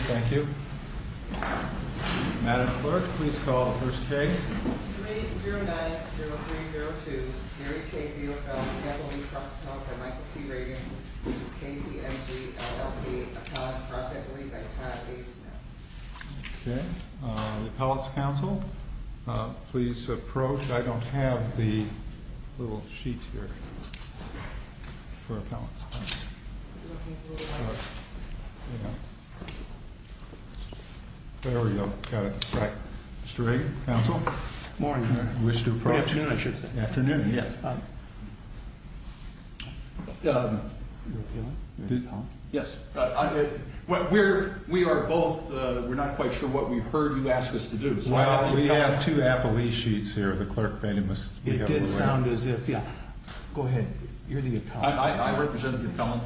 I don't have the little sheet here for the appellate's counsel. We're not quite sure what we heard you ask us to do. Well, we have two appellee sheets here. It did sound as if, yeah. Go ahead. You're the appellant. I represent the appellant.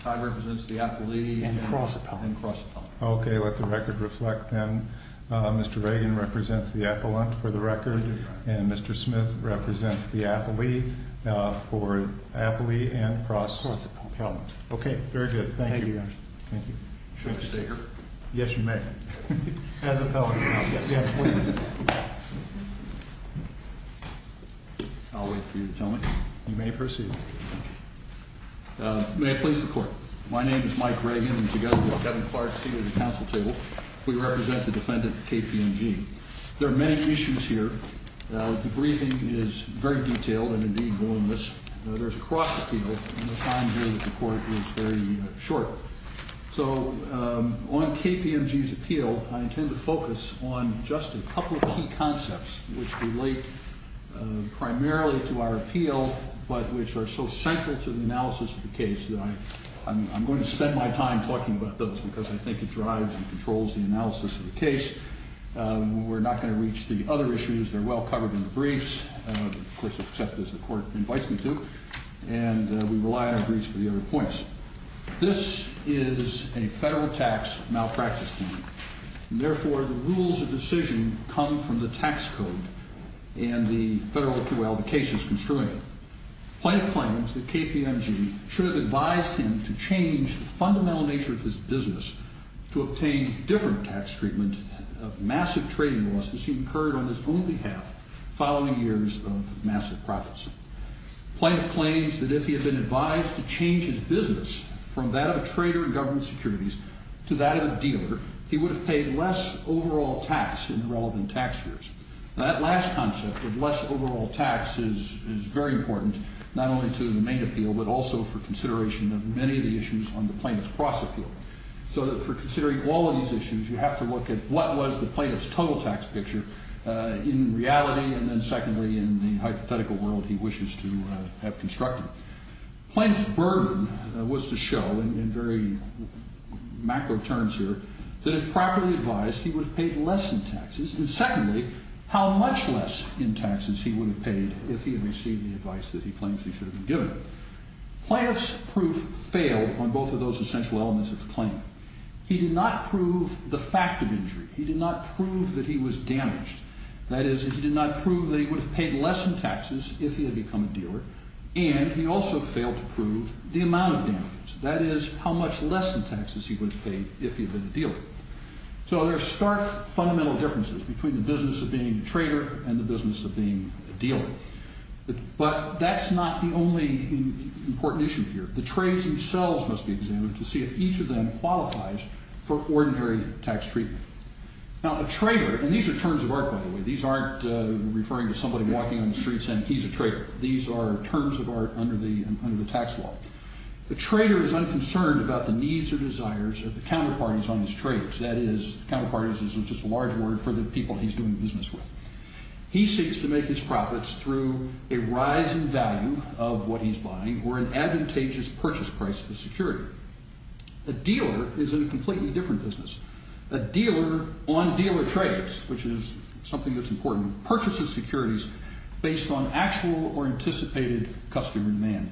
Todd represents the appellee. And cross-appellant. And cross-appellant. Okay, let the record reflect then. Mr. Reagan represents the appellant for the record. And Mr. Smith represents the appellee for appellee and cross-appellant. Okay, very good. Thank you. Thank you, Your Honor. Thank you. Should I stay here? Yes, you may. As appellant's counsel. Yes, yes, please. I'll wait for you to tell me. You may proceed. May it please the Court. My name is Mike Reagan, and together with Kevin Clark, C.E.O. of the Counsel Table, we represent the defendant, KPMG. There are many issues here. The briefing is very detailed and, indeed, voluminous. There's cross-appeal, and the time here at the Court is very short. So on KPMG's appeal, I intend to focus on just a couple of key concepts, which relate primarily to our appeal but which are so central to the analysis of the case that I'm going to spend my time talking about those because I think it drives and controls the analysis of the case. We're not going to reach the other issues. They're well covered in the briefs, of course, except as the Court invites me to. And we rely on our briefs for the other points. This is a federal tax malpractice claim, and therefore the rules of decision come from the tax code and the federal OQL the case is construing. Plaintiff claims that KPMG should have advised him to change the fundamental nature of his business to obtain different tax treatment of massive trading losses he incurred on his own behalf following years of massive profits. Plaintiff claims that if he had been advised to change his business from that of a trader in government securities to that of a dealer, he would have paid less overall tax in the relevant tax years. That last concept of less overall tax is very important not only to the main appeal but also for consideration of many of the issues on the plaintiff's cross-appeal. So for considering all of these issues, you have to look at what was the plaintiff's total tax picture in reality and then secondly in the hypothetical world he wishes to have constructed. Plaintiff's burden was to show in very macro terms here that if properly advised he would have paid less in taxes and secondly how much less in taxes he would have paid if he had received the advice that he claims he should have been given. Plaintiff's proof failed on both of those essential elements of the claim. He did not prove the fact of injury. He did not prove that he was damaged. That is he did not prove that he would have paid less in taxes if he had become a dealer and he also failed to prove the amount of damage. That is how much less in taxes he would have paid if he had been a dealer. So there are stark fundamental differences between the business of being a trader and the business of being a dealer. But that's not the only important issue here. The trades themselves must be examined to see if each of them qualifies for ordinary tax treatment. Now a trader, and these are terms of art by the way. These aren't referring to somebody walking on the streets saying he's a trader. These are terms of art under the tax law. A trader is unconcerned about the needs or desires of the counterparties on his trades. That is counterparties is just a large word for the people he's doing business with. He seeks to make his profits through a rise in value of what he's buying or an advantageous purchase price of the security. A dealer is in a completely different business. A dealer on dealer trades, which is something that's important, purchases securities based on actual or anticipated customer demand.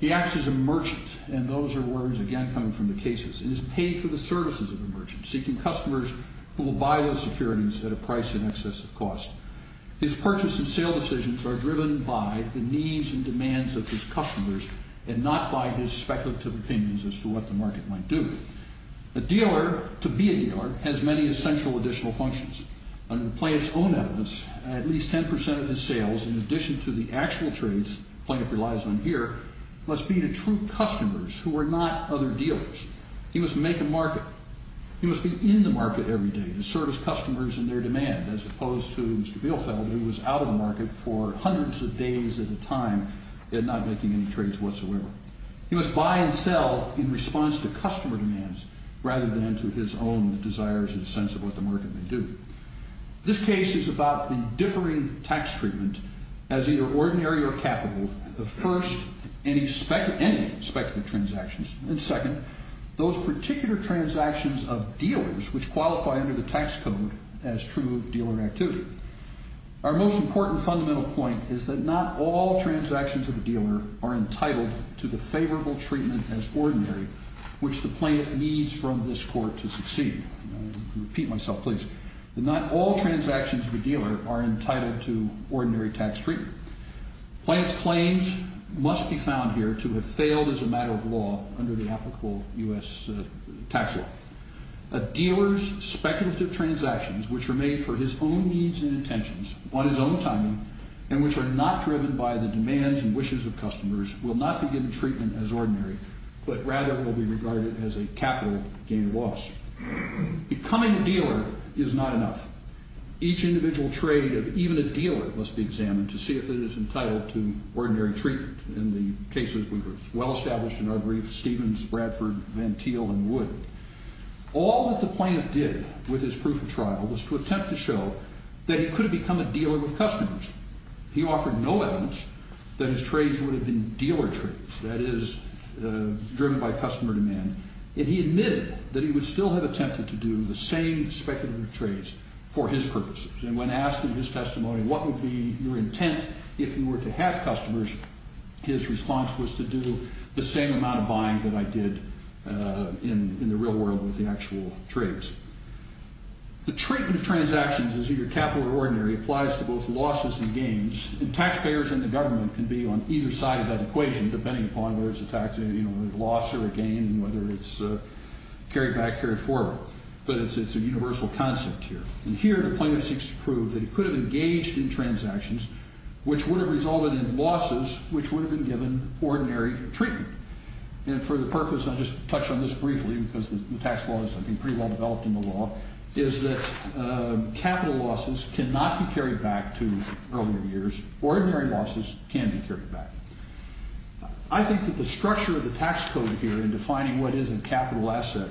He acts as a merchant, and those are words again coming from the cases, and is paid for the services of a merchant, seeking customers who will buy those securities at a price in excess of cost. His purchase and sale decisions are driven by the needs and demands of his customers and not by his speculative opinions as to what the market might do. A dealer, to be a dealer, has many essential additional functions. Under the plaintiff's own evidence, at least 10% of his sales, in addition to the actual trades the plaintiff relies on here, must be to true customers who are not other dealers. He must make a market. He must be in the market every day to service customers and their demand as opposed to Mr. Bielfeld who was out of the market for hundreds of days at a time yet not making any trades whatsoever. He must buy and sell in response to customer demands rather than to his own desires and sense of what the market may do. This case is about the differing tax treatment as either ordinary or capital of first, any speculative transactions, and second, those particular transactions of dealers which qualify under the tax code as true dealer activity. Our most important fundamental point is that not all transactions of a dealer are entitled to the favorable treatment as ordinary which the plaintiff needs from this court to succeed. I'll repeat myself, please. Not all transactions of a dealer are entitled to ordinary tax treatment. Plaintiff's claims must be found here to have failed as a matter of law under the applicable U.S. tax law. A dealer's speculative transactions which are made for his own needs and intentions on his own time and which are not driven by the demands and wishes of customers will not be given treatment as ordinary but rather will be regarded as a capital gain or loss. Becoming a dealer is not enough. Each individual trade of even a dealer must be examined to see if it is entitled to ordinary treatment. In the cases we've well established in our briefs, Stevens, Bradford, Van Teel, and Wood, all that the plaintiff did with his proof of trial was to attempt to show that he could have become a dealer with customers. He offered no evidence that his trades would have been dealer trades, that is, driven by customer demand, and he admitted that he would still have attempted to do the same speculative trades for his purposes, and when asked in his testimony what would be your intent if you were to have customers, his response was to do the same amount of buying that I did in the real world with the actual trades. The treatment of transactions as either capital or ordinary applies to both losses and gains, and taxpayers and the government can be on either side of that equation depending upon whether it's a loss or a gain and whether it's carried back, carried forward, but it's a universal concept here. And here the plaintiff seeks to prove that he could have engaged in transactions which would have resulted in losses which would have been given ordinary treatment. And for the purpose, I'll just touch on this briefly because the tax law is, I think, pretty well developed in the law, is that capital losses cannot be carried back to earlier years. Ordinary losses can be carried back. I think that the structure of the tax code here in defining what is a capital asset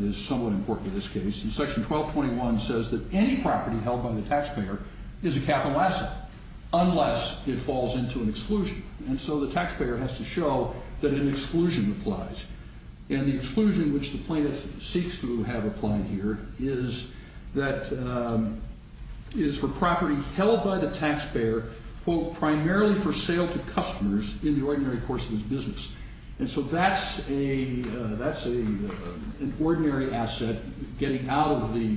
is somewhat important in this case. Section 1221 says that any property held by the taxpayer is a capital asset unless it falls into an exclusion. And so the taxpayer has to show that an exclusion applies. And the exclusion which the plaintiff seeks to have applied here is for property held by the taxpayer, quote, primarily for sale to customers in the ordinary course of his business. And so that's an ordinary asset getting out of the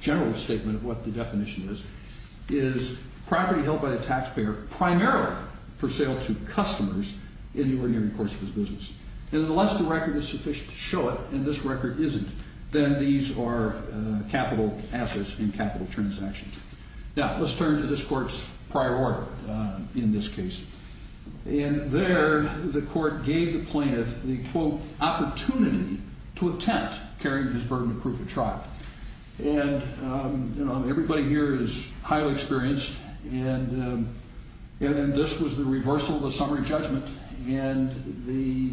general statement of what the definition is, is property held by the taxpayer primarily for sale to customers in the ordinary course of his business. And unless the record is sufficient to show it, and this record isn't, then these are capital assets and capital transactions. Now, let's turn to this court's prior order in this case. And there the court gave the plaintiff the, quote, opportunity to attempt carrying his burden of proof of trial. And, you know, everybody here is highly experienced, and this was the reversal of the summary judgment, and the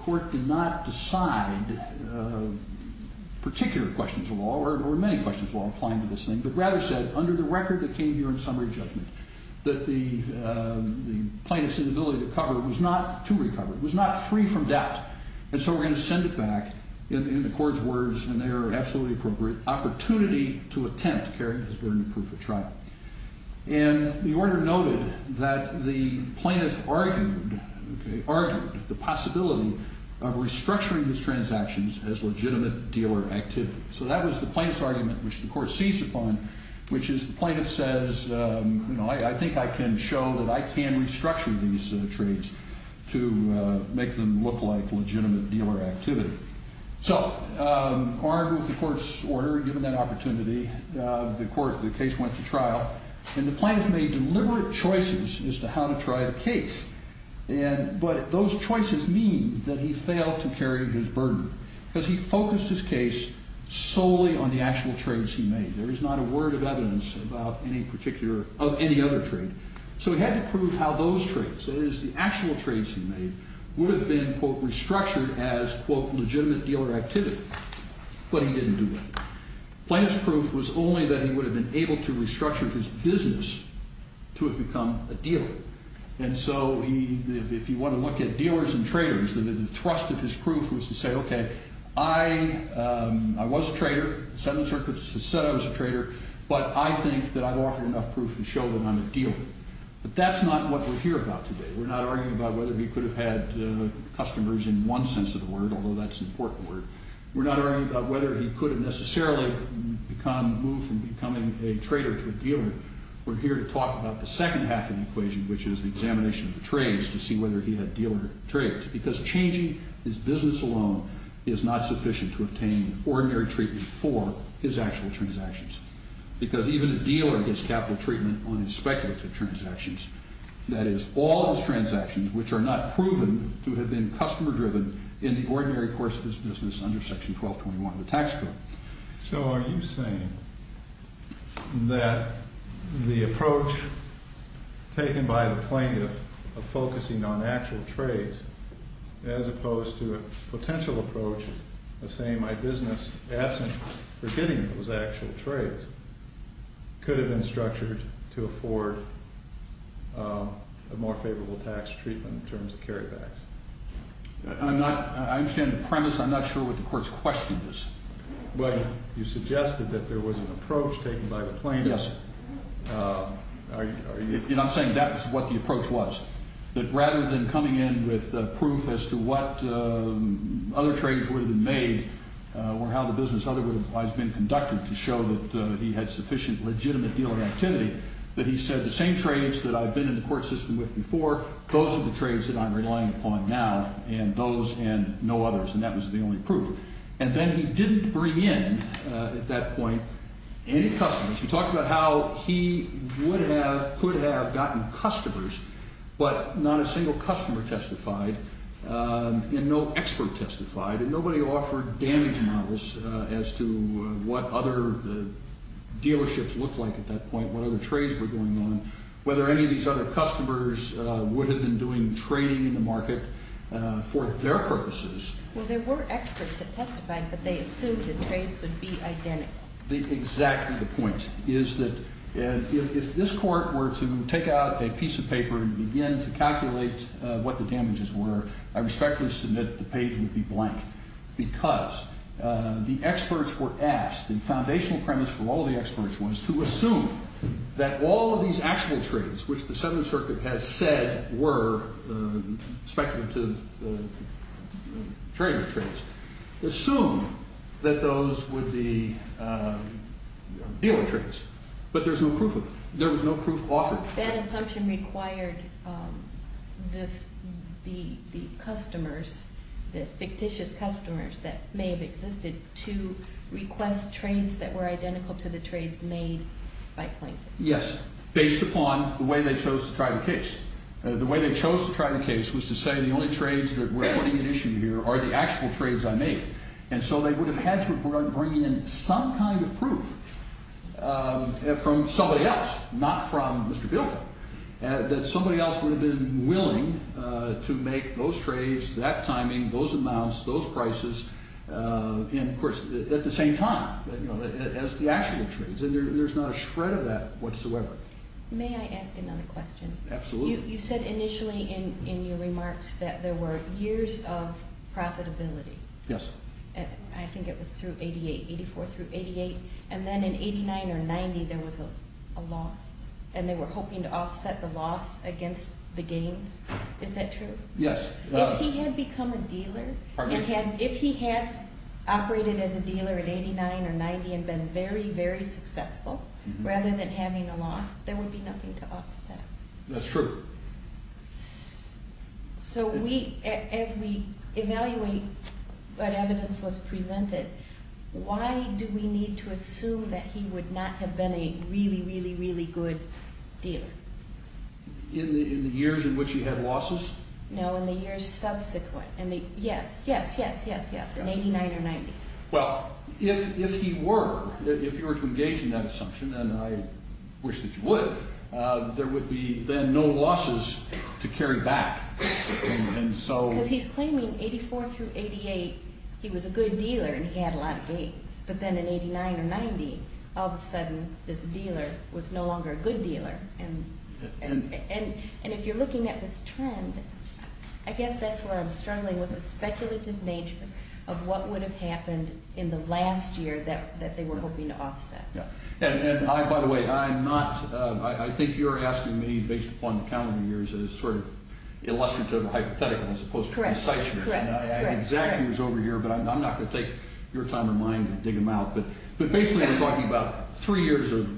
court did not decide particular questions of law or many questions of law applying to this thing, but rather said under the record that came here in summary judgment that the plaintiff's inability to cover was not to recover. It was not free from debt. And so we're going to send it back in the court's words, and they are absolutely appropriate, opportunity to attempt carrying his burden of proof of trial. And the order noted that the plaintiff argued, okay, argued the possibility of restructuring his transactions as legitimate dealer activity. So that was the plaintiff's argument which the court seized upon, which is the plaintiff says, you know, I think I can show that I can restructure these trades to make them look like legitimate dealer activity. So armed with the court's order, given that opportunity, the case went to trial, and the plaintiff made deliberate choices as to how to try the case. But those choices mean that he failed to carry his burden because he focused his case solely on the actual trades he made. There is not a word of evidence of any other trade. So he had to prove how those trades, that is the actual trades he made, would have been, quote, restructured as, quote, legitimate dealer activity. But he didn't do that. Plaintiff's proof was only that he would have been able to restructure his business to have become a dealer. And so if you want to look at dealers and traders, he said I was a trader, but I think that I've offered enough proof to show that I'm a dealer. But that's not what we're here about today. We're not arguing about whether he could have had customers in one sense of the word, although that's an important word. We're not arguing about whether he could have necessarily become, moved from becoming a trader to a dealer. We're here to talk about the second half of the equation, which is the examination of the trades to see whether he had dealer trades, because changing his business alone is not sufficient to obtain ordinary treatment for his actual transactions. Because even a dealer gets capital treatment on his speculative transactions, that is, all of his transactions which are not proven to have been customer-driven in the ordinary course of his business under Section 1221 of the tax code. So are you saying that the approach taken by the plaintiff of focusing on actual trades, as opposed to a potential approach of saying my business, absent from getting those actual trades, could have been structured to afford a more favorable tax treatment in terms of carrybacks? I'm not, I understand the premise. I'm not sure what the court's question is. But you suggested that there was an approach taken by the plaintiff. Yes. Are you? And I'm saying that's what the approach was, that rather than coming in with proof as to what other trades would have been made or how the business otherwise would have been conducted to show that he had sufficient, legitimate dealer activity, that he said the same trades that I've been in the court system with before, those are the trades that I'm relying upon now, and those and no others. And that was the only proof. And then he didn't bring in, at that point, any customers. He talked about how he would have, could have gotten customers, but not a single customer testified and no expert testified, and nobody offered damage models as to what other dealerships looked like at that point, what other trades were going on, whether any of these other customers would have been doing trading in the market for their purposes. Well, there were experts that testified, but they assumed the trades would be identical. Exactly the point is that if this court were to take out a piece of paper and begin to calculate what the damages were, I respectfully submit the page would be blank because the experts were asked, and the foundational premise for all the experts was to assume that all of these actual trades, which the Seventh Circuit has said were speculative trading trades, assume that those would be dealer trades. But there's no proof of it. There was no proof offered. That assumption required the customers, the fictitious customers that may have existed, to request trades that were identical to the trades made by Plankton. Yes, based upon the way they chose to try the case. The way they chose to try the case was to say the only trades that were putting an issue here are the actual trades I made, and so they would have had to have brought in some kind of proof from somebody else, not from Mr. Bielfeld, that somebody else would have been willing to make those trades, that timing, those amounts, those prices, and, of course, at the same time as the actual trades, and there's not a shred of that whatsoever. May I ask another question? Absolutely. You said initially in your remarks that there were years of profitability. Yes. I think it was through 88, 84 through 88, and then in 89 or 90 there was a loss, and they were hoping to offset the loss against the gains. Is that true? Yes. If he had become a dealer, if he had operated as a dealer in 89 or 90 and been very, very successful, rather than having a loss, there would be nothing to offset. That's true. So as we evaluate what evidence was presented, why do we need to assume that he would not have been a really, really, really good dealer? In the years in which he had losses? No, in the years subsequent. Yes, yes, yes, yes, yes, in 89 or 90. Well, if he were, if you were to engage in that assumption, and I wish that you would, there would be then no losses to carry back. Because he's claiming 84 through 88 he was a good dealer and he had a lot of gains, but then in 89 or 90 all of a sudden this dealer was no longer a good dealer. And if you're looking at this trend, I guess that's where I'm struggling with the speculative nature of what would have happened in the last year that they were hoping to offset. And I, by the way, I'm not, I think you're asking me based upon the calendar years as sort of illustrative or hypothetical as opposed to concise. Correct, correct. And I have exact years over here, but I'm not going to take your time or mine to dig them out. But basically we're talking about three years of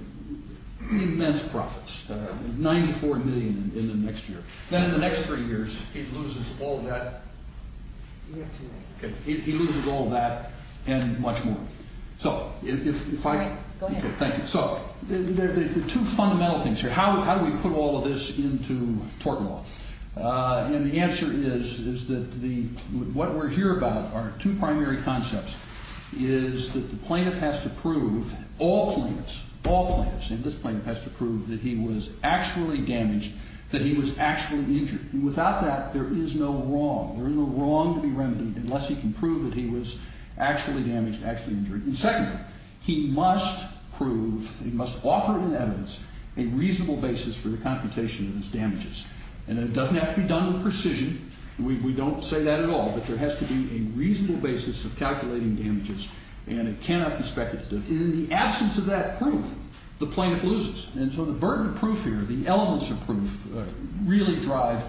immense profits, 94 million in the next year. Then in the next three years he loses all that, he loses all that and much more. So, if I, thank you. So, the two fundamental things here, how do we put all of this into tort law? And the answer is, is that the, what we're here about are two primary concepts. Is that the plaintiff has to prove, all plaintiffs, all plaintiffs, and this plaintiff has to prove that he was actually damaged, that he was actually injured. Without that there is no wrong, there is no wrong to be remedied unless he can prove that he was actually damaged, actually injured. And secondly, he must prove, he must offer an evidence, a reasonable basis for the computation of his damages. And it doesn't have to be done with precision, we don't say that at all, but there has to be a reasonable basis of calculating damages and it cannot be speculated. In the absence of that proof, the plaintiff loses. And so the burden of proof here, the elements of proof, really drive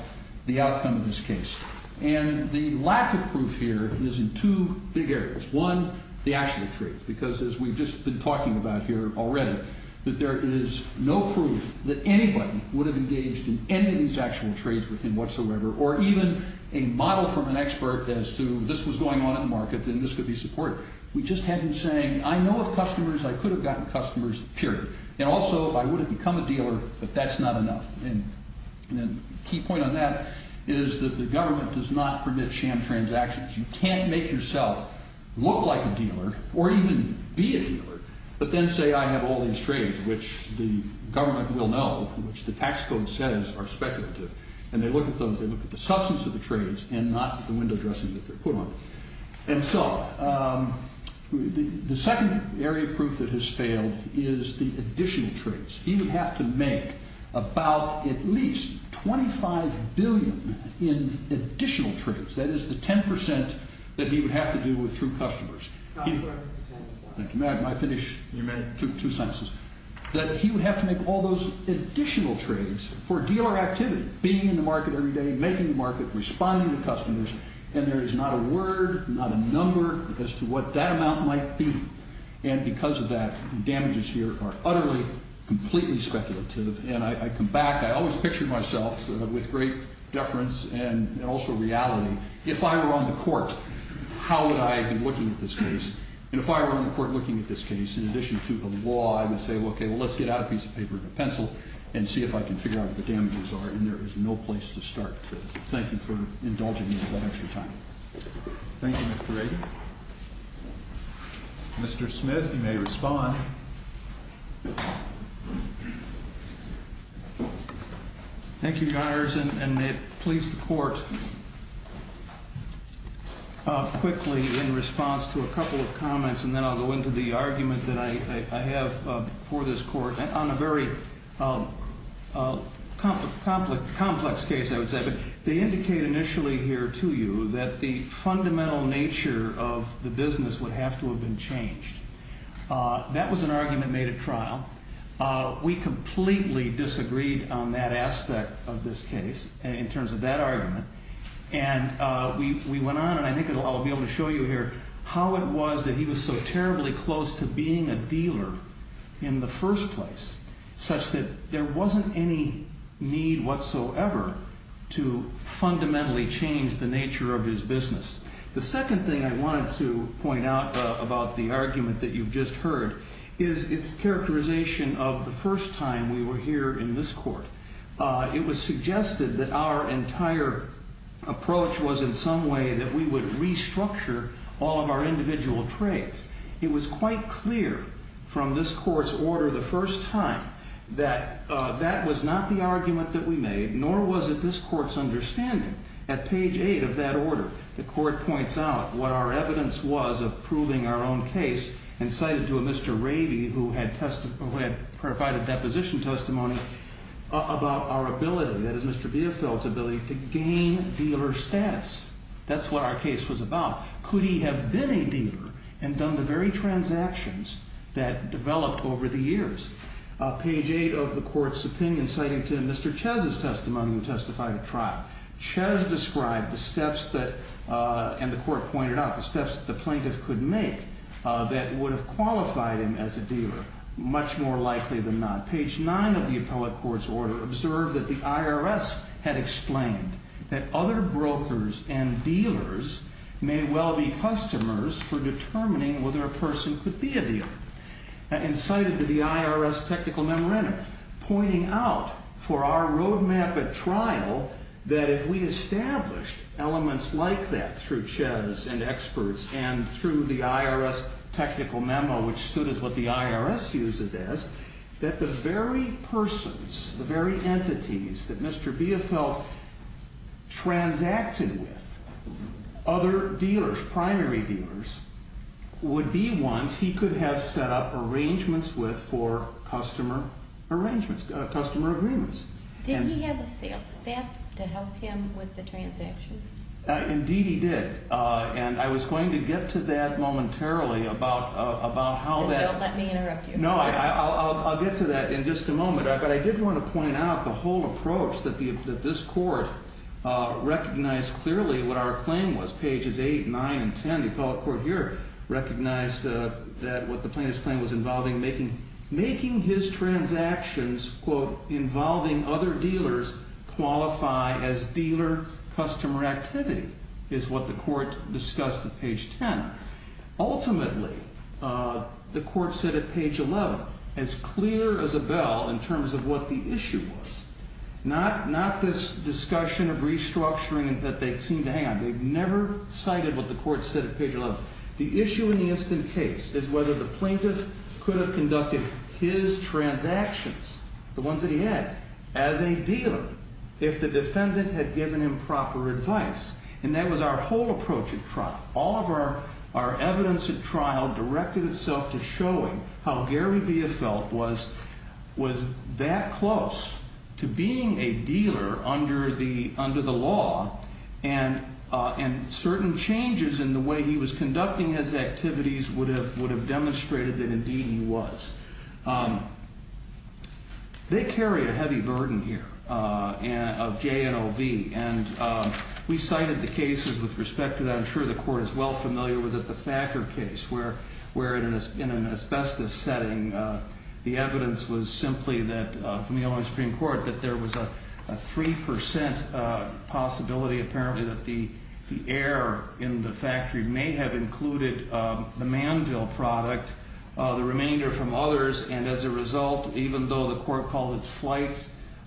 the outcome of this case. And the lack of proof here is in two big areas. One, the actual trades, because as we've just been talking about here already, that there is no proof that anybody would have engaged in any of these actual trades with him whatsoever, or even a model from an expert as to this was going on in the market and this could be supported. We just had him saying, I know of customers, I could have gotten customers, period. And also, if I would have become a dealer, but that's not enough. And the key point on that is that the government does not permit sham transactions. You can't make yourself look like a dealer, or even be a dealer, but then say I have all these trades, which the government will know, which the tax code says are speculative, and they look at those, they look at the substance of the trades and not the window dressing that they're put on. And so the second area of proof that has failed is the additional trades. He would have to make about at least $25 billion in additional trades. That is the 10% that he would have to do with true customers. May I finish? You may. Two sentences. That he would have to make all those additional trades for dealer activity, being in the market every day, making the market, responding to customers, and there is not a word, not a number as to what that amount might be. And because of that, the damages here are utterly, completely speculative. And I come back, I always picture myself with great deference and also reality. If I were on the court, how would I be looking at this case? And if I were on the court looking at this case, in addition to the law, I would say, okay, well, let's get out a piece of paper and a pencil and see if I can figure out what the damages are, and there is no place to start. Thank you for indulging me for that extra time. Thank you, Mr. Ragan. Mr. Smith, you may respond. Thank you, Your Honors, and please support quickly in response to a couple of comments, and then I'll go into the argument that I have for this court on a very complex case, I would say. They indicate initially here to you that the fundamental nature of the business would have to have been changed. That was an argument made at trial. We completely disagreed on that aspect of this case in terms of that argument, and we went on, and I think I'll be able to show you here, how it was that he was so terribly close to being a dealer in the first place, such that there wasn't any need whatsoever to fundamentally change the nature of his business. The second thing I wanted to point out about the argument that you've just heard is its characterization of the first time we were here in this court. It was suggested that our entire approach was in some way that we would restructure all of our individual trades. It was quite clear from this court's order the first time that that was not the argument that we made, nor was it this court's understanding. At page 8 of that order, the court points out what our evidence was of proving our own case and cited to a Mr. Raby who had provided deposition testimony about our ability, that is Mr. Biefeld's ability, to gain dealer status. That's what our case was about. Could he have been a dealer and done the very transactions that developed over the years? Page 8 of the court's opinion citing to Mr. Chez's testimony who testified at trial. Chez described the steps that, and the court pointed out, the steps that the plaintiff could make that would have qualified him as a dealer much more likely than not. Page 9 of the appellate court's order observed that the IRS had explained that other brokers and dealers may well be customers for determining whether a person could be a dealer and cited to the IRS technical memorandum pointing out for our roadmap at trial that if we established elements like that through Chez and experts and through the IRS technical memo which stood as what the IRS uses as, that the very persons, the very entities that Mr. Biefeld transacted with other dealers, primary dealers, would be ones he could have set up arrangements with for customer agreements. Did he have a sales staff to help him with the transactions? Indeed he did, and I was going to get to that momentarily about how that... Then don't let me interrupt you. No, I'll get to that in just a moment, but I did want to point out the whole approach that this court recognized clearly what our claim was. The appellate court here recognized that what the plaintiff's claim was involving making his transactions, quote, involving other dealers qualify as dealer customer activity is what the court discussed at page 10. Ultimately, the court said at page 11, as clear as a bell in terms of what the issue was, not this discussion of restructuring that they seemed to hang on. They never cited what the court said at page 11. The issue in the instant case is whether the plaintiff could have conducted his transactions, the ones that he had, as a dealer if the defendant had given him proper advice, and that was our whole approach at trial. All of our evidence at trial directed itself to showing how Gary Biefeld was that close to being a dealer under the law, and certain changes in the way he was conducting his activities would have demonstrated that indeed he was. They carry a heavy burden here of JNOV, and we cited the cases with respect to that. I'm sure the court is well familiar with it, the Thacker case, where in an asbestos setting the evidence was simply that from the Illinois Supreme Court that there was a 3% possibility apparently that the air in the factory may have included the manville product, the remainder from others, and as a result, even though the court called it slight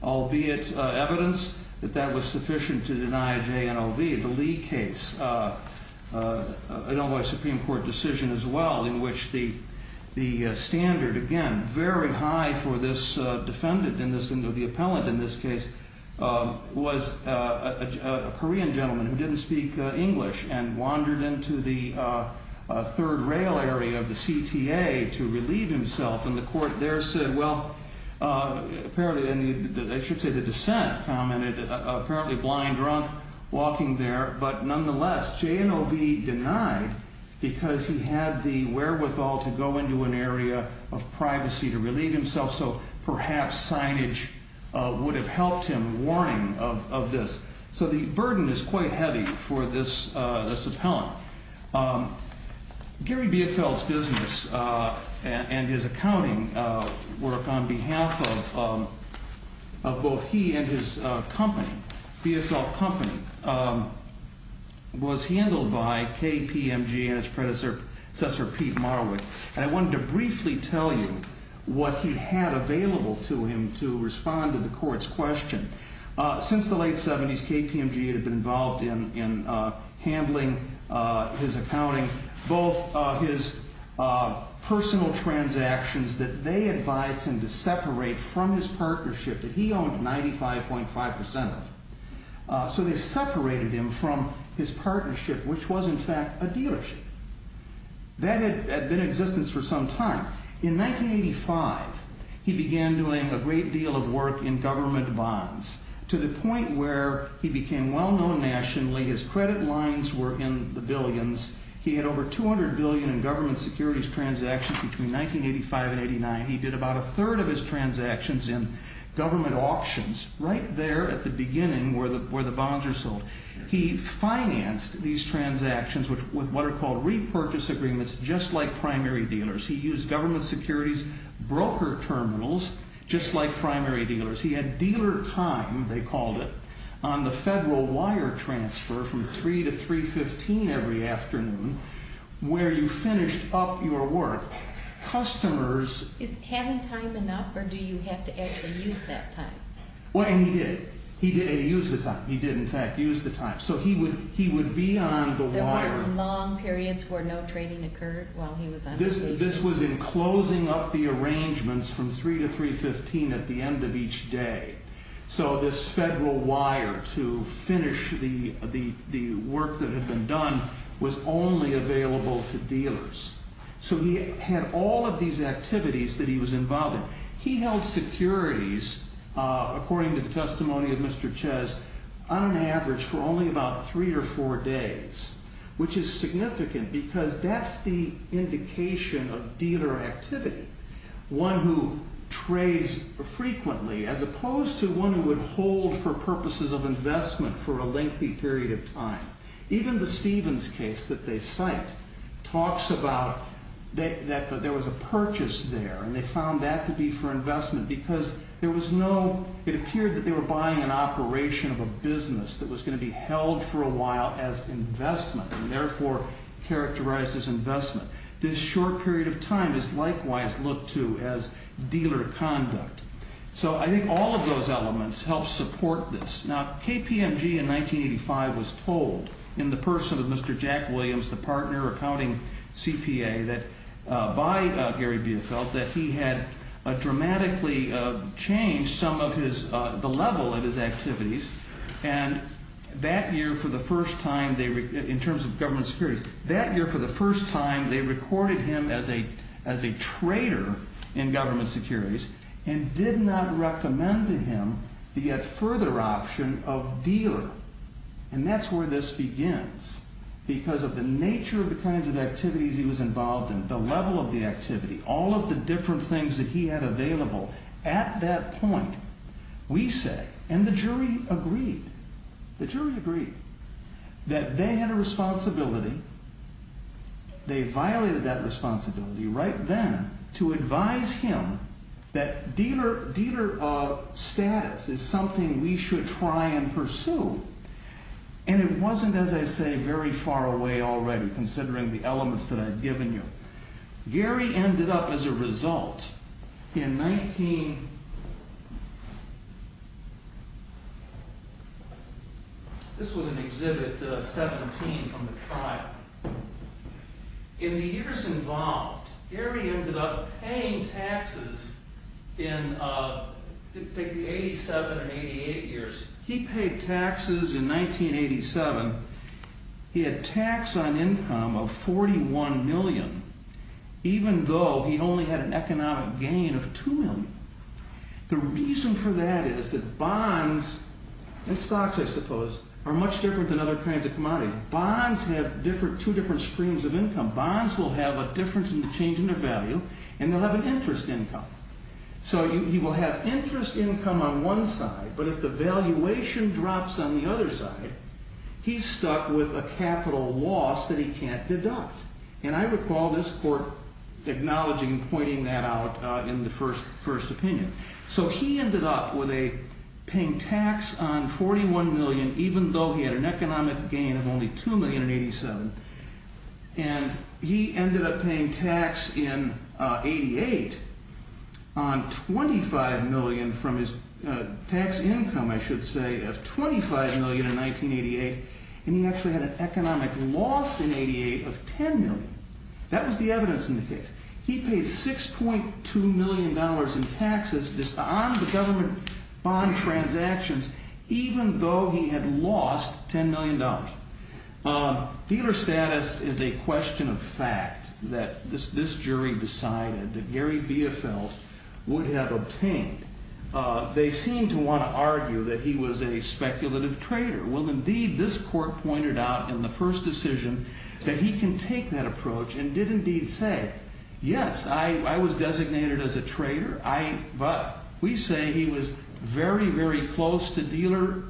albeit evidence, that that was sufficient to deny JNOV. The Lee case, an Illinois Supreme Court decision as well, in which the standard, again, very high for this defendant, the appellant in this case, was a Korean gentleman who didn't speak English and wandered into the third rail area of the CTA to relieve himself, and the court there said, well, apparently, I should say the dissent commented, apparently blind, drunk, walking there, but nonetheless, JNOV denied because he had the wherewithal to go into an area of privacy to relieve himself, so perhaps signage would have helped him, warning of this. So the burden is quite heavy for this appellant. Gary Biefeld's business and his accounting work on behalf of both he and his company, Biefeld Company, was handled by KPMG and its predecessor, Pete Marwick, and I wanted to briefly tell you what he had available to him to respond to the court's question. Since the late 70s, KPMG had been involved in handling his accounting, both his personal transactions that they advised him to separate from his partnership that he owned 95.5 percent of, so they separated him from his partnership, which was, in fact, a dealership. That had been in existence for some time. In 1985, he began doing a great deal of work in government bonds to the point where he became well-known nationally. His credit lines were in the billions. He had over $200 billion in government securities transactions between 1985 and 1989. He did about a third of his transactions in government auctions right there at the beginning where the bonds were sold. He financed these transactions with what are called repurchase agreements, just like primary dealers. He used government securities broker terminals just like primary dealers. He had dealer time, they called it, on the federal wire transfer from 3 to 315 every afternoon where you finished up your work. Customers... Is having time enough or do you have to actually use that time? Well, and he did. He did use the time. He did, in fact, use the time. So he would be on the wire. There were long periods where no trading occurred while he was on the wire? This was in closing up the arrangements from 3 to 315 at the end of each day. So this federal wire to finish the work that had been done was only available to dealers. So he had all of these activities that he was involved in. He held securities, according to the testimony of Mr. Chez, on an average for only about three or four days, which is significant because that's the indication of dealer activity. One who trades frequently as opposed to one who would hold for purposes of investment for a lengthy period of time. Even the Stevens case that they cite talks about that there was a purchase there and they found that to be for investment because there was no... It appeared that they were buying an operation of a business that was going to be held for a while as investment and therefore characterized as investment. This short period of time is likewise looked to as dealer conduct. So I think all of those elements help support this. Now KPMG in 1985 was told in the person of Mr. Jack Williams, the partner accounting CPA by Gary Biefeld, that he had dramatically changed some of the level of his activities. And that year for the first time, in terms of government securities, that year for the first time they recorded him as a trader in government securities and did not recommend to him the yet further option of dealer. And that's where this begins because of the nature of the kinds of activities he was involved in, the level of the activity, all of the different things that he had available. At that point, we say, and the jury agreed, the jury agreed, that they had a responsibility. They violated that responsibility right then to advise him that dealer status is something we should try and pursue. And it wasn't, as I say, very far away already considering the elements that I've given you. Gary ended up, as a result, in 19... This was in Exhibit 17 from the trial. In the years involved, Gary ended up paying taxes in the 87 or 88 years. He paid taxes in 1987. He had tax on income of $41 million, even though he only had an economic gain of $2 million. The reason for that is that bonds and stocks, I suppose, are much different than other kinds of commodities. Bonds have two different streams of income. Bonds will have a difference in the change in their value, and they'll have an interest income. So he will have interest income on one side, but if the valuation drops on the other side, he's stuck with a capital loss that he can't deduct. And I recall this court acknowledging and pointing that out in the first opinion. So he ended up paying tax on $41 million, even though he had an economic gain of only $2 million in 1987. And he ended up paying tax in 88 on $25 million from his tax income, I should say, of $25 million in 1988. And he actually had an economic loss in 88 of $10 million. That was the evidence in the case. He paid $6.2 million in taxes on the government bond transactions, even though he had lost $10 million. Dealer status is a question of fact that this jury decided that Gary Biefeld would have obtained. They seem to want to argue that he was a speculative trader. Well, indeed, this court pointed out in the first decision that he can take that approach and did indeed say, yes, I was designated as a trader, but we say he was very, very close to dealer.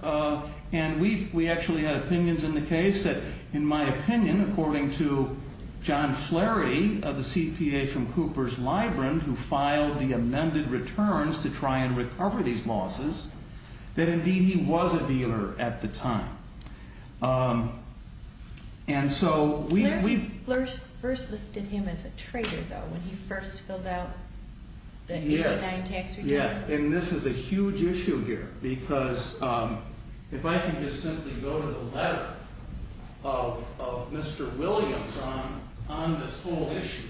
And we actually had opinions in the case that, in my opinion, according to John Flaherty of the CPA from Cooper's Librand, who filed the amended returns to try and recover these losses, that, indeed, he was a dealer at the time. And so we – Flaherty first listed him as a trader, though, when he first filled out the 89 tax return. Yes, and this is a huge issue here because if I can just simply go to the letter of Mr. Williams on this whole issue.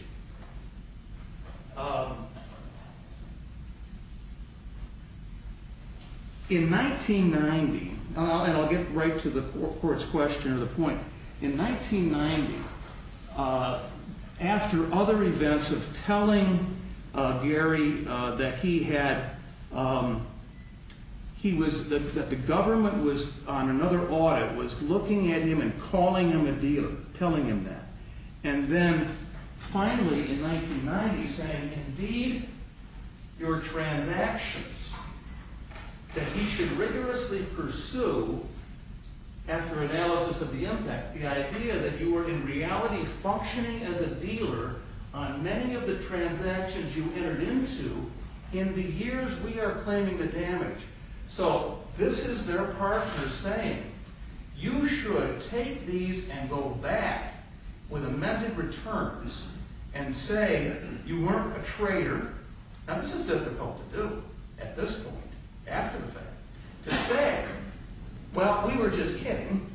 In 1990 – and I'll get right to the court's question or the point. In 1990, after other events of telling Gary that he had – he was – that the government was on another audit, was looking at him and calling him a dealer, telling him that. And then, finally, in 1990, saying, indeed, your transactions that he should rigorously pursue after analysis of the impact, the idea that you were in reality functioning as a dealer on many of the transactions you entered into in the years we are claiming the damage. So this is their partner saying, you should take these and go back with amended returns and say you weren't a trader. Now, this is difficult to do at this point, after the fact, to say, well, we were just kidding.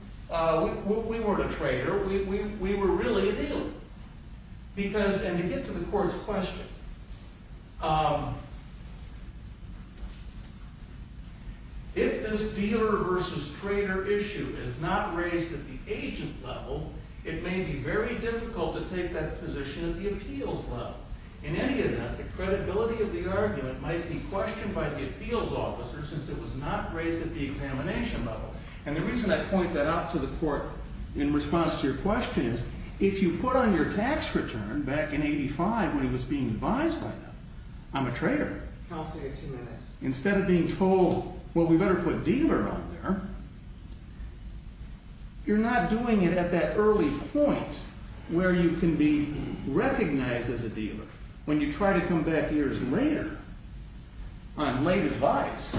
We weren't a trader. We were really a dealer. Because – and to get to the court's question – if this dealer versus trader issue is not raised at the agent level, it may be very difficult to take that position at the appeals level. In any event, the credibility of the argument might be questioned by the appeals officer since it was not raised at the examination level. And the reason I point that out to the court in response to your question is, if you put on your tax return back in 1985 when he was being advised by them, I'm a trader. Counselor, you have two minutes. Instead of being told, well, we better put dealer on there, you're not doing it at that early point where you can be recognized as a dealer. When you try to come back years later on late advice,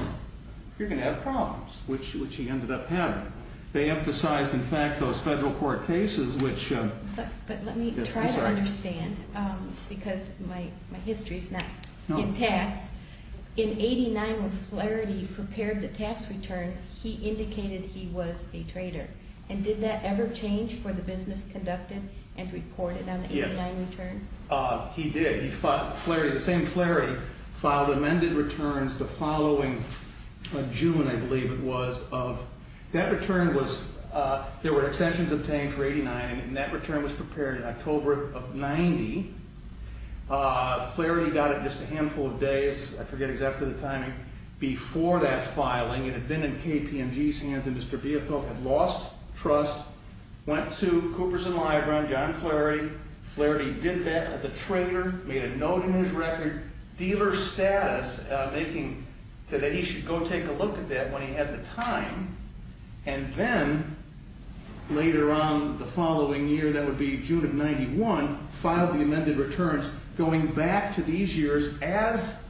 you're going to have problems, which he ended up having. They emphasized, in fact, those federal court cases which – But let me try to understand because my history is not in tax. In 89 when Flaherty prepared the tax return, he indicated he was a trader. And did that ever change for the business conducted and reported on the 89 return? He did. Flaherty, the same Flaherty, filed amended returns the following June, I believe it was. That return was – there were extensions obtained for 89 and that return was prepared in October of 90. Flaherty got it just a handful of days, I forget exactly the timing, before that filing. It had been in KPMG's hands and Mr. Biafoe had lost trust, went to Cooperson Library, John Flaherty. Flaherty did that as a trader, made a note in his record, dealer status, making – said that he should go take a look at that when he had the time. And then later on the following year, that would be June of 91, filed the amended returns going back to these years as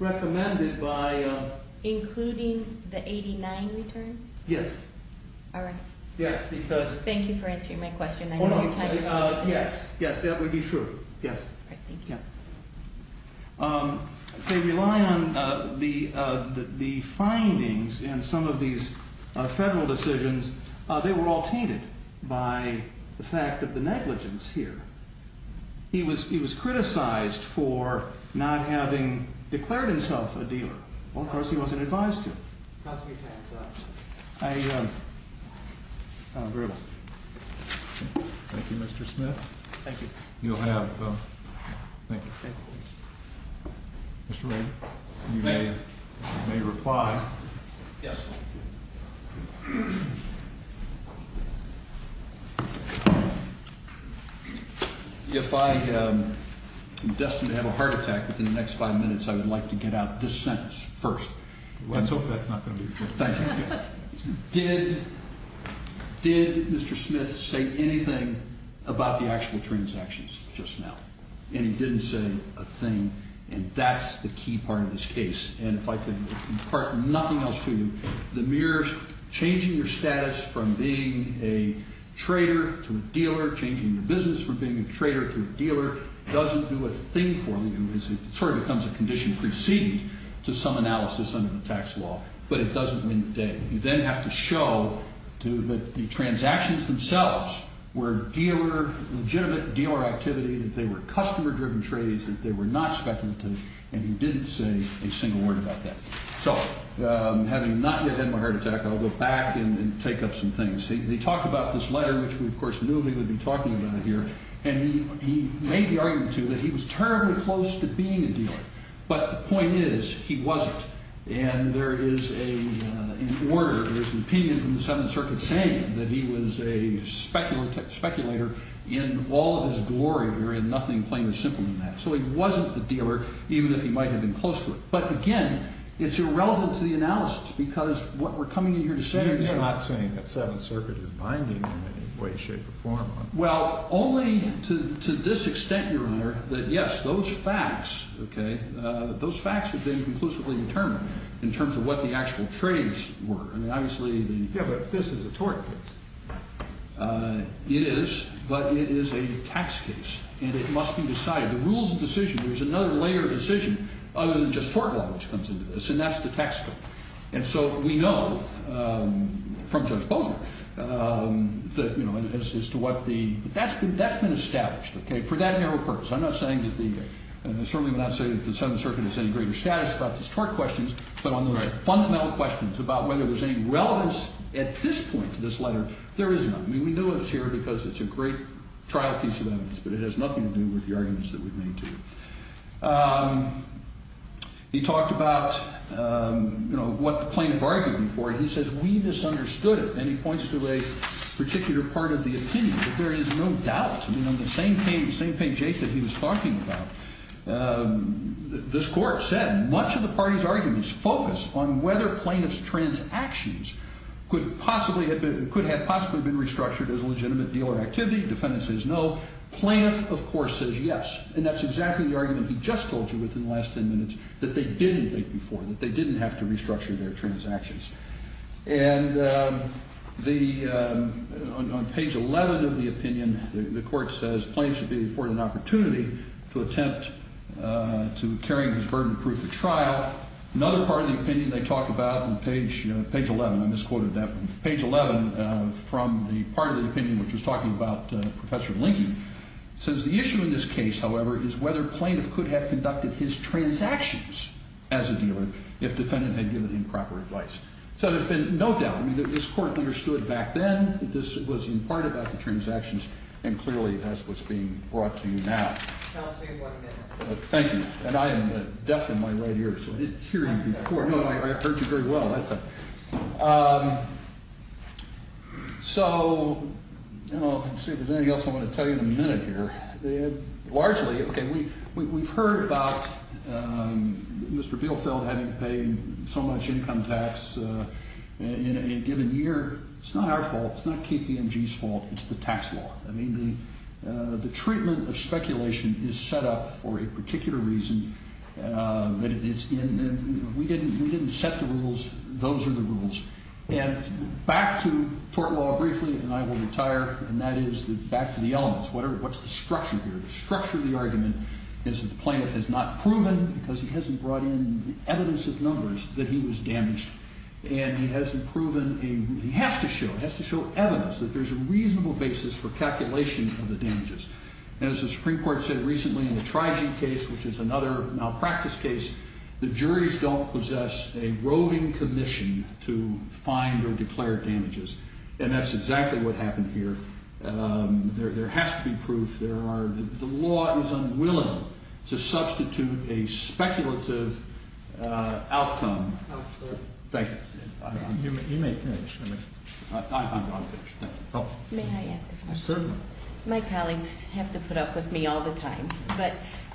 recommended by – Including the 89 return? Yes. All right. Yes, because – Thank you for answering my question. Yes, yes, that would be true. Yes. All right, thank you. They rely on the findings in some of these federal decisions. They were all tainted by the fact of the negligence here. He was criticized for not having declared himself a dealer. Of course, he wasn't advised to. I agree with you. Thank you, Mr. Smith. Thank you. You'll have. Thank you. Thank you. Mr. Ray, you may reply. Yes. If I am destined to have a heart attack within the next five minutes, I would like to get out this sentence first. Let's hope that's not going to be the case. Thank you. Did Mr. Smith say anything about the actual transactions just now? And he didn't say a thing, and that's the key part of this case. And if I could impart nothing else to you, the mere changing your status from being a trader to a dealer, changing your business from being a trader to a dealer doesn't do a thing for you. It sort of becomes a condition preceded to some analysis under the tax law, but it doesn't win the day. You then have to show that the transactions themselves were dealer, legitimate dealer activity, that they were customer-driven trades, that they were not speculative, and he didn't say a single word about that. So, having not yet had my heart attack, I'll go back and take up some things. He talked about this letter, which we, of course, knew he would be talking about here, and he made the argument, too, that he was terribly close to being a dealer. But the point is, he wasn't, and there is an order, there is an opinion from the Seventh Circuit saying that he was a speculator in all of his glory, wherein nothing plain or simple than that. So he wasn't a dealer, even if he might have been close to it. But, again, it's irrelevant to the analysis because what we're coming in here to say is You're not saying that Seventh Circuit is binding in any way, shape, or form. Well, only to this extent, Your Honor, that, yes, those facts, okay, those facts have been conclusively determined in terms of what the actual trades were. I mean, obviously, the Yeah, but this is a tort case. It is, but it is a tax case, and it must be decided. The rules of decision, there's another layer of decision other than just tort law, which comes into this, and that's the tax bill. And so we know from Judge Bozner that, you know, as to what the, but that's been established, okay, for that narrow purpose. I'm not saying that the, and I certainly would not say that the Seventh Circuit has any greater status about these tort questions, but on the fundamental questions about whether there's any relevance at this point to this letter, there is none. I mean, we know it's here because it's a great trial piece of evidence, but it has nothing to do with the arguments that we've made to you. He talked about, you know, what the plaintiff argued before, and he says we misunderstood it, and he points to a particular part of the opinion that there is no doubt. I mean, on the same page eight that he was talking about, this court said much of the party's arguments focus on whether plaintiff's transactions could have possibly been restructured as a legitimate deal or activity. Defendant says no. Plaintiff, of course, says yes, and that's exactly the argument he just told you within the last ten minutes, that they didn't wait before, that they didn't have to restructure their transactions. And the, on page 11 of the opinion, the court says, plaintiff should be afforded an opportunity to attempt to carry his burden of proof at trial. Another part of the opinion they talk about on page 11, I misquoted that one, page 11 from the part of the opinion which was talking about Professor Lincoln, says the issue in this case, however, is whether plaintiff could have conducted his transactions as a dealer if defendant had given him proper advice. So there's been no doubt. I mean, this court understood back then that this was in part about the transactions, and clearly that's what's being brought to you now. Counsel, you have one minute. Thank you. And I am deaf in my right ear, so I didn't hear you before. I heard you very well that time. So, I don't know if there's anything else I want to tell you in a minute here. Largely, okay, we've heard about Mr. Bielfeld having to pay so much income tax in a given year. It's not our fault. It's not KPMG's fault. It's the tax law. I mean, the treatment of speculation is set up for a particular reason. We didn't set the rules. Those are the rules. And back to tort law briefly, and I will retire, and that is back to the elements. What's the structure here? The structure of the argument is that the plaintiff has not proven, because he hasn't brought in the evidence of numbers, that he was damaged. And he hasn't proven a – he has to show, he has to show evidence that there's a reasonable basis for calculation of the damages. And as the Supreme Court said recently in the Trijee case, which is another malpractice case, the juries don't possess a roving commission to find or declare damages. And that's exactly what happened here. There has to be proof. There are – the law is unwilling to substitute a speculative outcome. Thank you. You may finish. I'm done. May I ask a question? Certainly. My colleagues have to put up with me all the time, but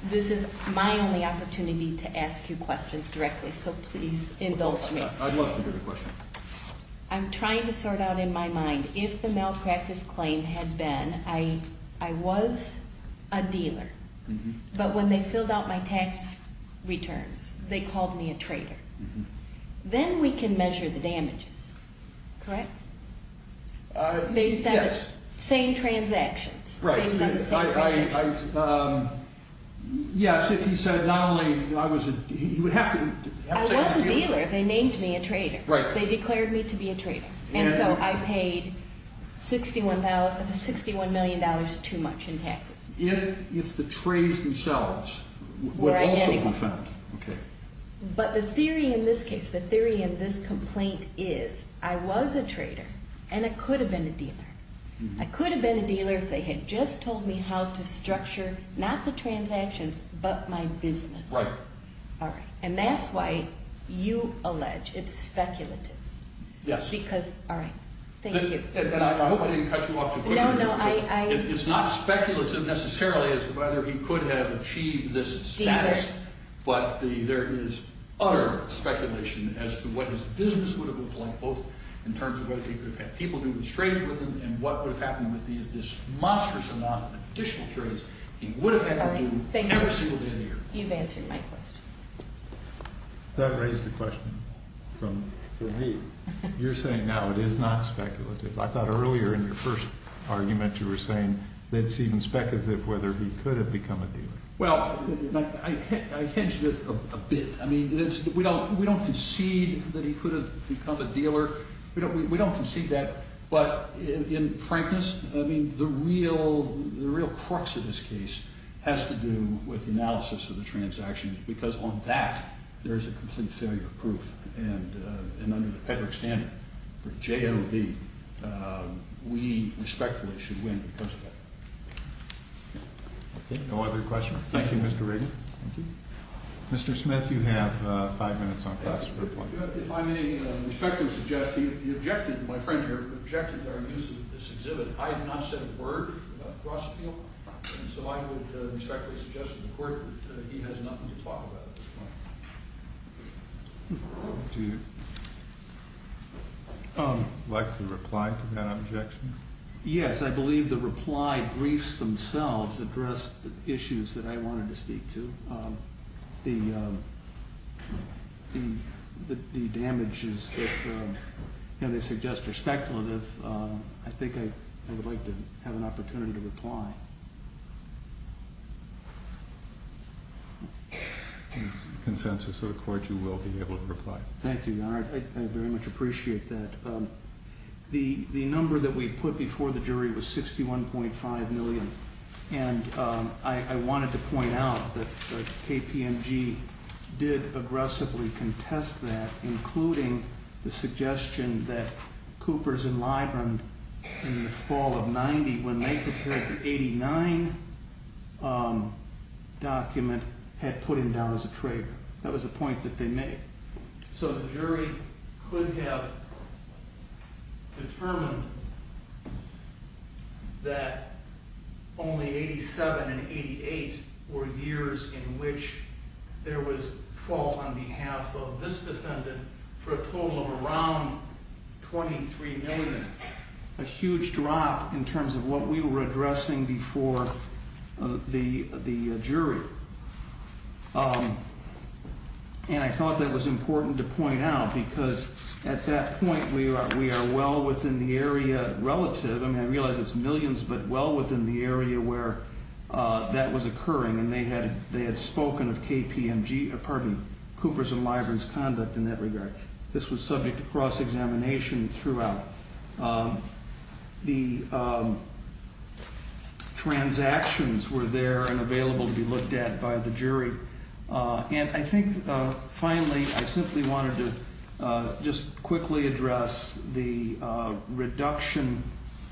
this is my only opportunity to ask you questions directly, so please indulge me. I'd love to hear the question. I'm trying to sort out in my mind if the malpractice claim had been I was a dealer, but when they filled out my tax returns, they called me a traitor. Then we can measure the damages, correct? Yes. Same transactions. Right. Based on the same transactions. Yes. If you said not only I was a – you would have to – I was a dealer. They named me a traitor. Right. They declared me to be a traitor. And so I paid $61 million too much in taxes. If the trades themselves would also be found. Were identical. Okay. But the theory in this case, the theory in this complaint, is I was a traitor and I could have been a dealer. I could have been a dealer if they had just told me how to structure, not the transactions, but my business. Right. All right. And that's why you allege it's speculative. Yes. Because – all right. Thank you. And I hope I didn't cut you off too quickly. No, no. It's not speculative necessarily as to whether he could have achieved this status, but there is utter speculation as to what his business would have looked like, both in terms of whether he could have had people do his trades with him and what would have happened with this monstrous amount of additional trades he would have had to do every single day of the year. All right. Thank you. You've answered my question. That raised a question for me. You're saying now it is not speculative. I thought earlier in your first argument you were saying that it's even speculative whether he could have become a dealer. Well, I hedged it a bit. I mean, we don't concede that he could have become a dealer. We don't concede that. But in frankness, I mean, the real crux of this case has to do with analysis of the transactions because on that there is a complete failure proof. And under the Patrick standard for JOD, we respectfully should win because of that. Okay. No other questions? Thank you, Mr. Rader. Thank you. Mr. Smith, you have five minutes on class report. If I may respectfully suggest, you objected, my friend here objected to our use of this exhibit. I have not said a word about Grosse Appeal, and so I would respectfully suggest to the Court that he has nothing to talk about at this point. Do you like to reply to that objection? Yes, I believe the reply briefs themselves address the issues that I wanted to speak to. The damages that they suggest are speculative. I think I would like to have an opportunity to reply. Consensus of the Court, you will be able to reply. Thank you, Your Honor. I very much appreciate that. The number that we put before the jury was 61.5 million, and I wanted to point out that KPMG did aggressively contest that, including the suggestion that Coopers and Librand in the fall of 1990, when they prepared the 89 document, had put him down as a traitor. That was a point that they made. So the jury could have determined that only 87 and 88 were years in which there was fault on behalf of this defendant for a total of around 23 million, a huge drop in terms of what we were addressing before the jury. And I thought that was important to point out, because at that point we are well within the area relative. I mean, I realize it's millions, but well within the area where that was occurring, and they had spoken of Coopers and Librand's conduct in that regard. This was subject to cross-examination throughout. The transactions were there and available to be looked at by the jury. And I think, finally, I simply wanted to just quickly address the reduction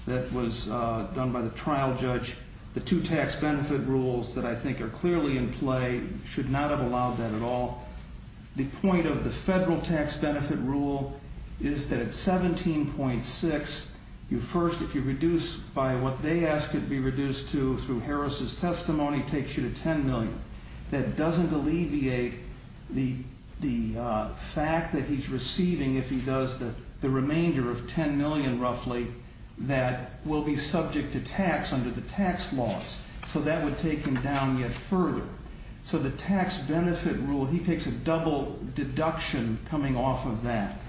that was done by the trial judge. The two tax benefit rules that I think are clearly in play should not have allowed that at all. The point of the federal tax benefit rule is that at 17.6, you first, if you reduce by what they ask it to be reduced to through Harris' testimony, takes you to 10 million. That doesn't alleviate the fact that he's receiving, if he does, the remainder of 10 million, roughly, that will be subject to tax under the tax laws. So that would take him down yet further. So the tax benefit rule, he takes a double deduction coming off of that.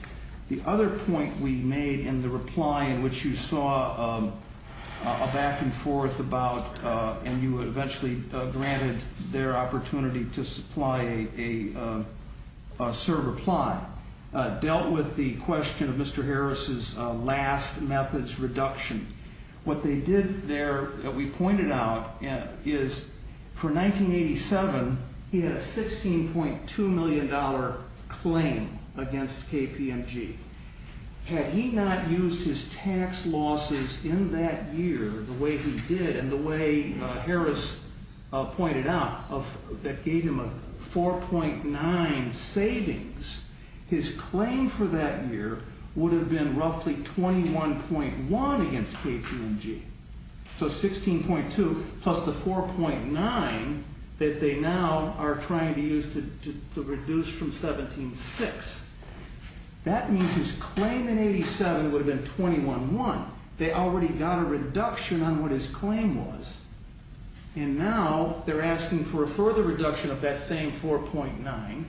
The other point we made in the reply in which you saw a back-and-forth about, and you eventually granted their opportunity to supply a served reply, dealt with the question of Mr. Harris' last methods reduction. What they did there that we pointed out is for 1987, he had a $16.2 million claim against KPMG. Had he not used his tax losses in that year the way he did and the way Harris pointed out that gave him a 4.9 savings, his claim for that year would have been roughly 21.1 against KPMG. So 16.2 plus the 4.9 that they now are trying to use to reduce from 17.6. That means his claim in 87 would have been 21.1. They already got a reduction on what his claim was. And now they're asking for a further reduction of that same 4.9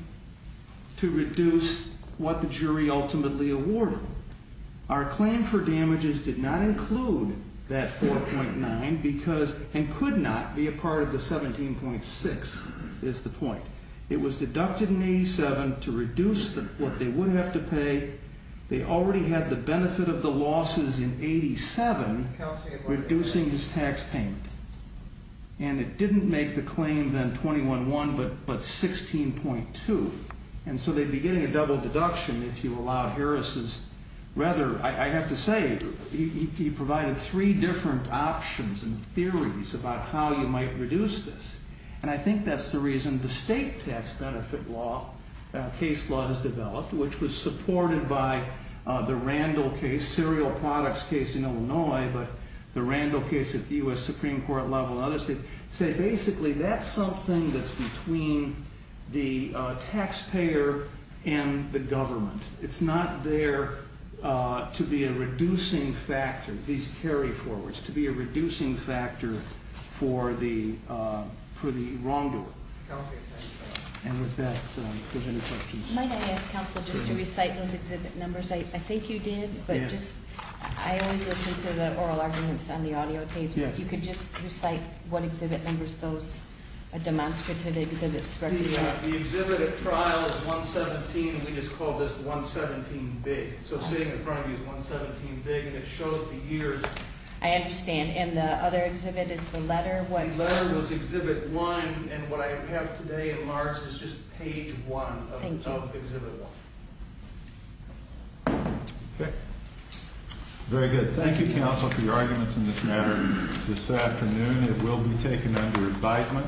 to reduce what the jury ultimately awarded. Our claim for damages did not include that 4.9 and could not be a part of the 17.6 is the point. It was deducted in 87 to reduce what they would have to pay. They already had the benefit of the losses in 87 reducing his tax payment. And it didn't make the claim then 21.1 but 16.2. And so they'd be getting a double deduction if you allowed Harris' rather, I have to say, he provided three different options and theories about how you might reduce this. And I think that's the reason the state tax benefit law, case law has developed, which was supported by the Randall case, serial products case in Illinois, but the Randall case at the U.S. Supreme Court level and other states, say basically that's something that's between the taxpayer and the government. It's not there to be a reducing factor. These carry forwards to be a reducing factor for the wrongdoer. And with that, there's any questions? Might I ask counsel just to recite those exhibit numbers? I think you did, but I always listen to the oral arguments on the audio tapes. If you could just recite what exhibit numbers those demonstrative exhibits represent. The exhibit at trial is 117. We just call this 117 big. So sitting in front of you is 117 big, and it shows the years. I understand. And the other exhibit is the letter? The letter goes exhibit one, and what I have today in March is just page one of exhibit one. Thank you. Okay. Very good. Thank you, counsel, for your arguments in this matter this afternoon. It will be taken under advisement.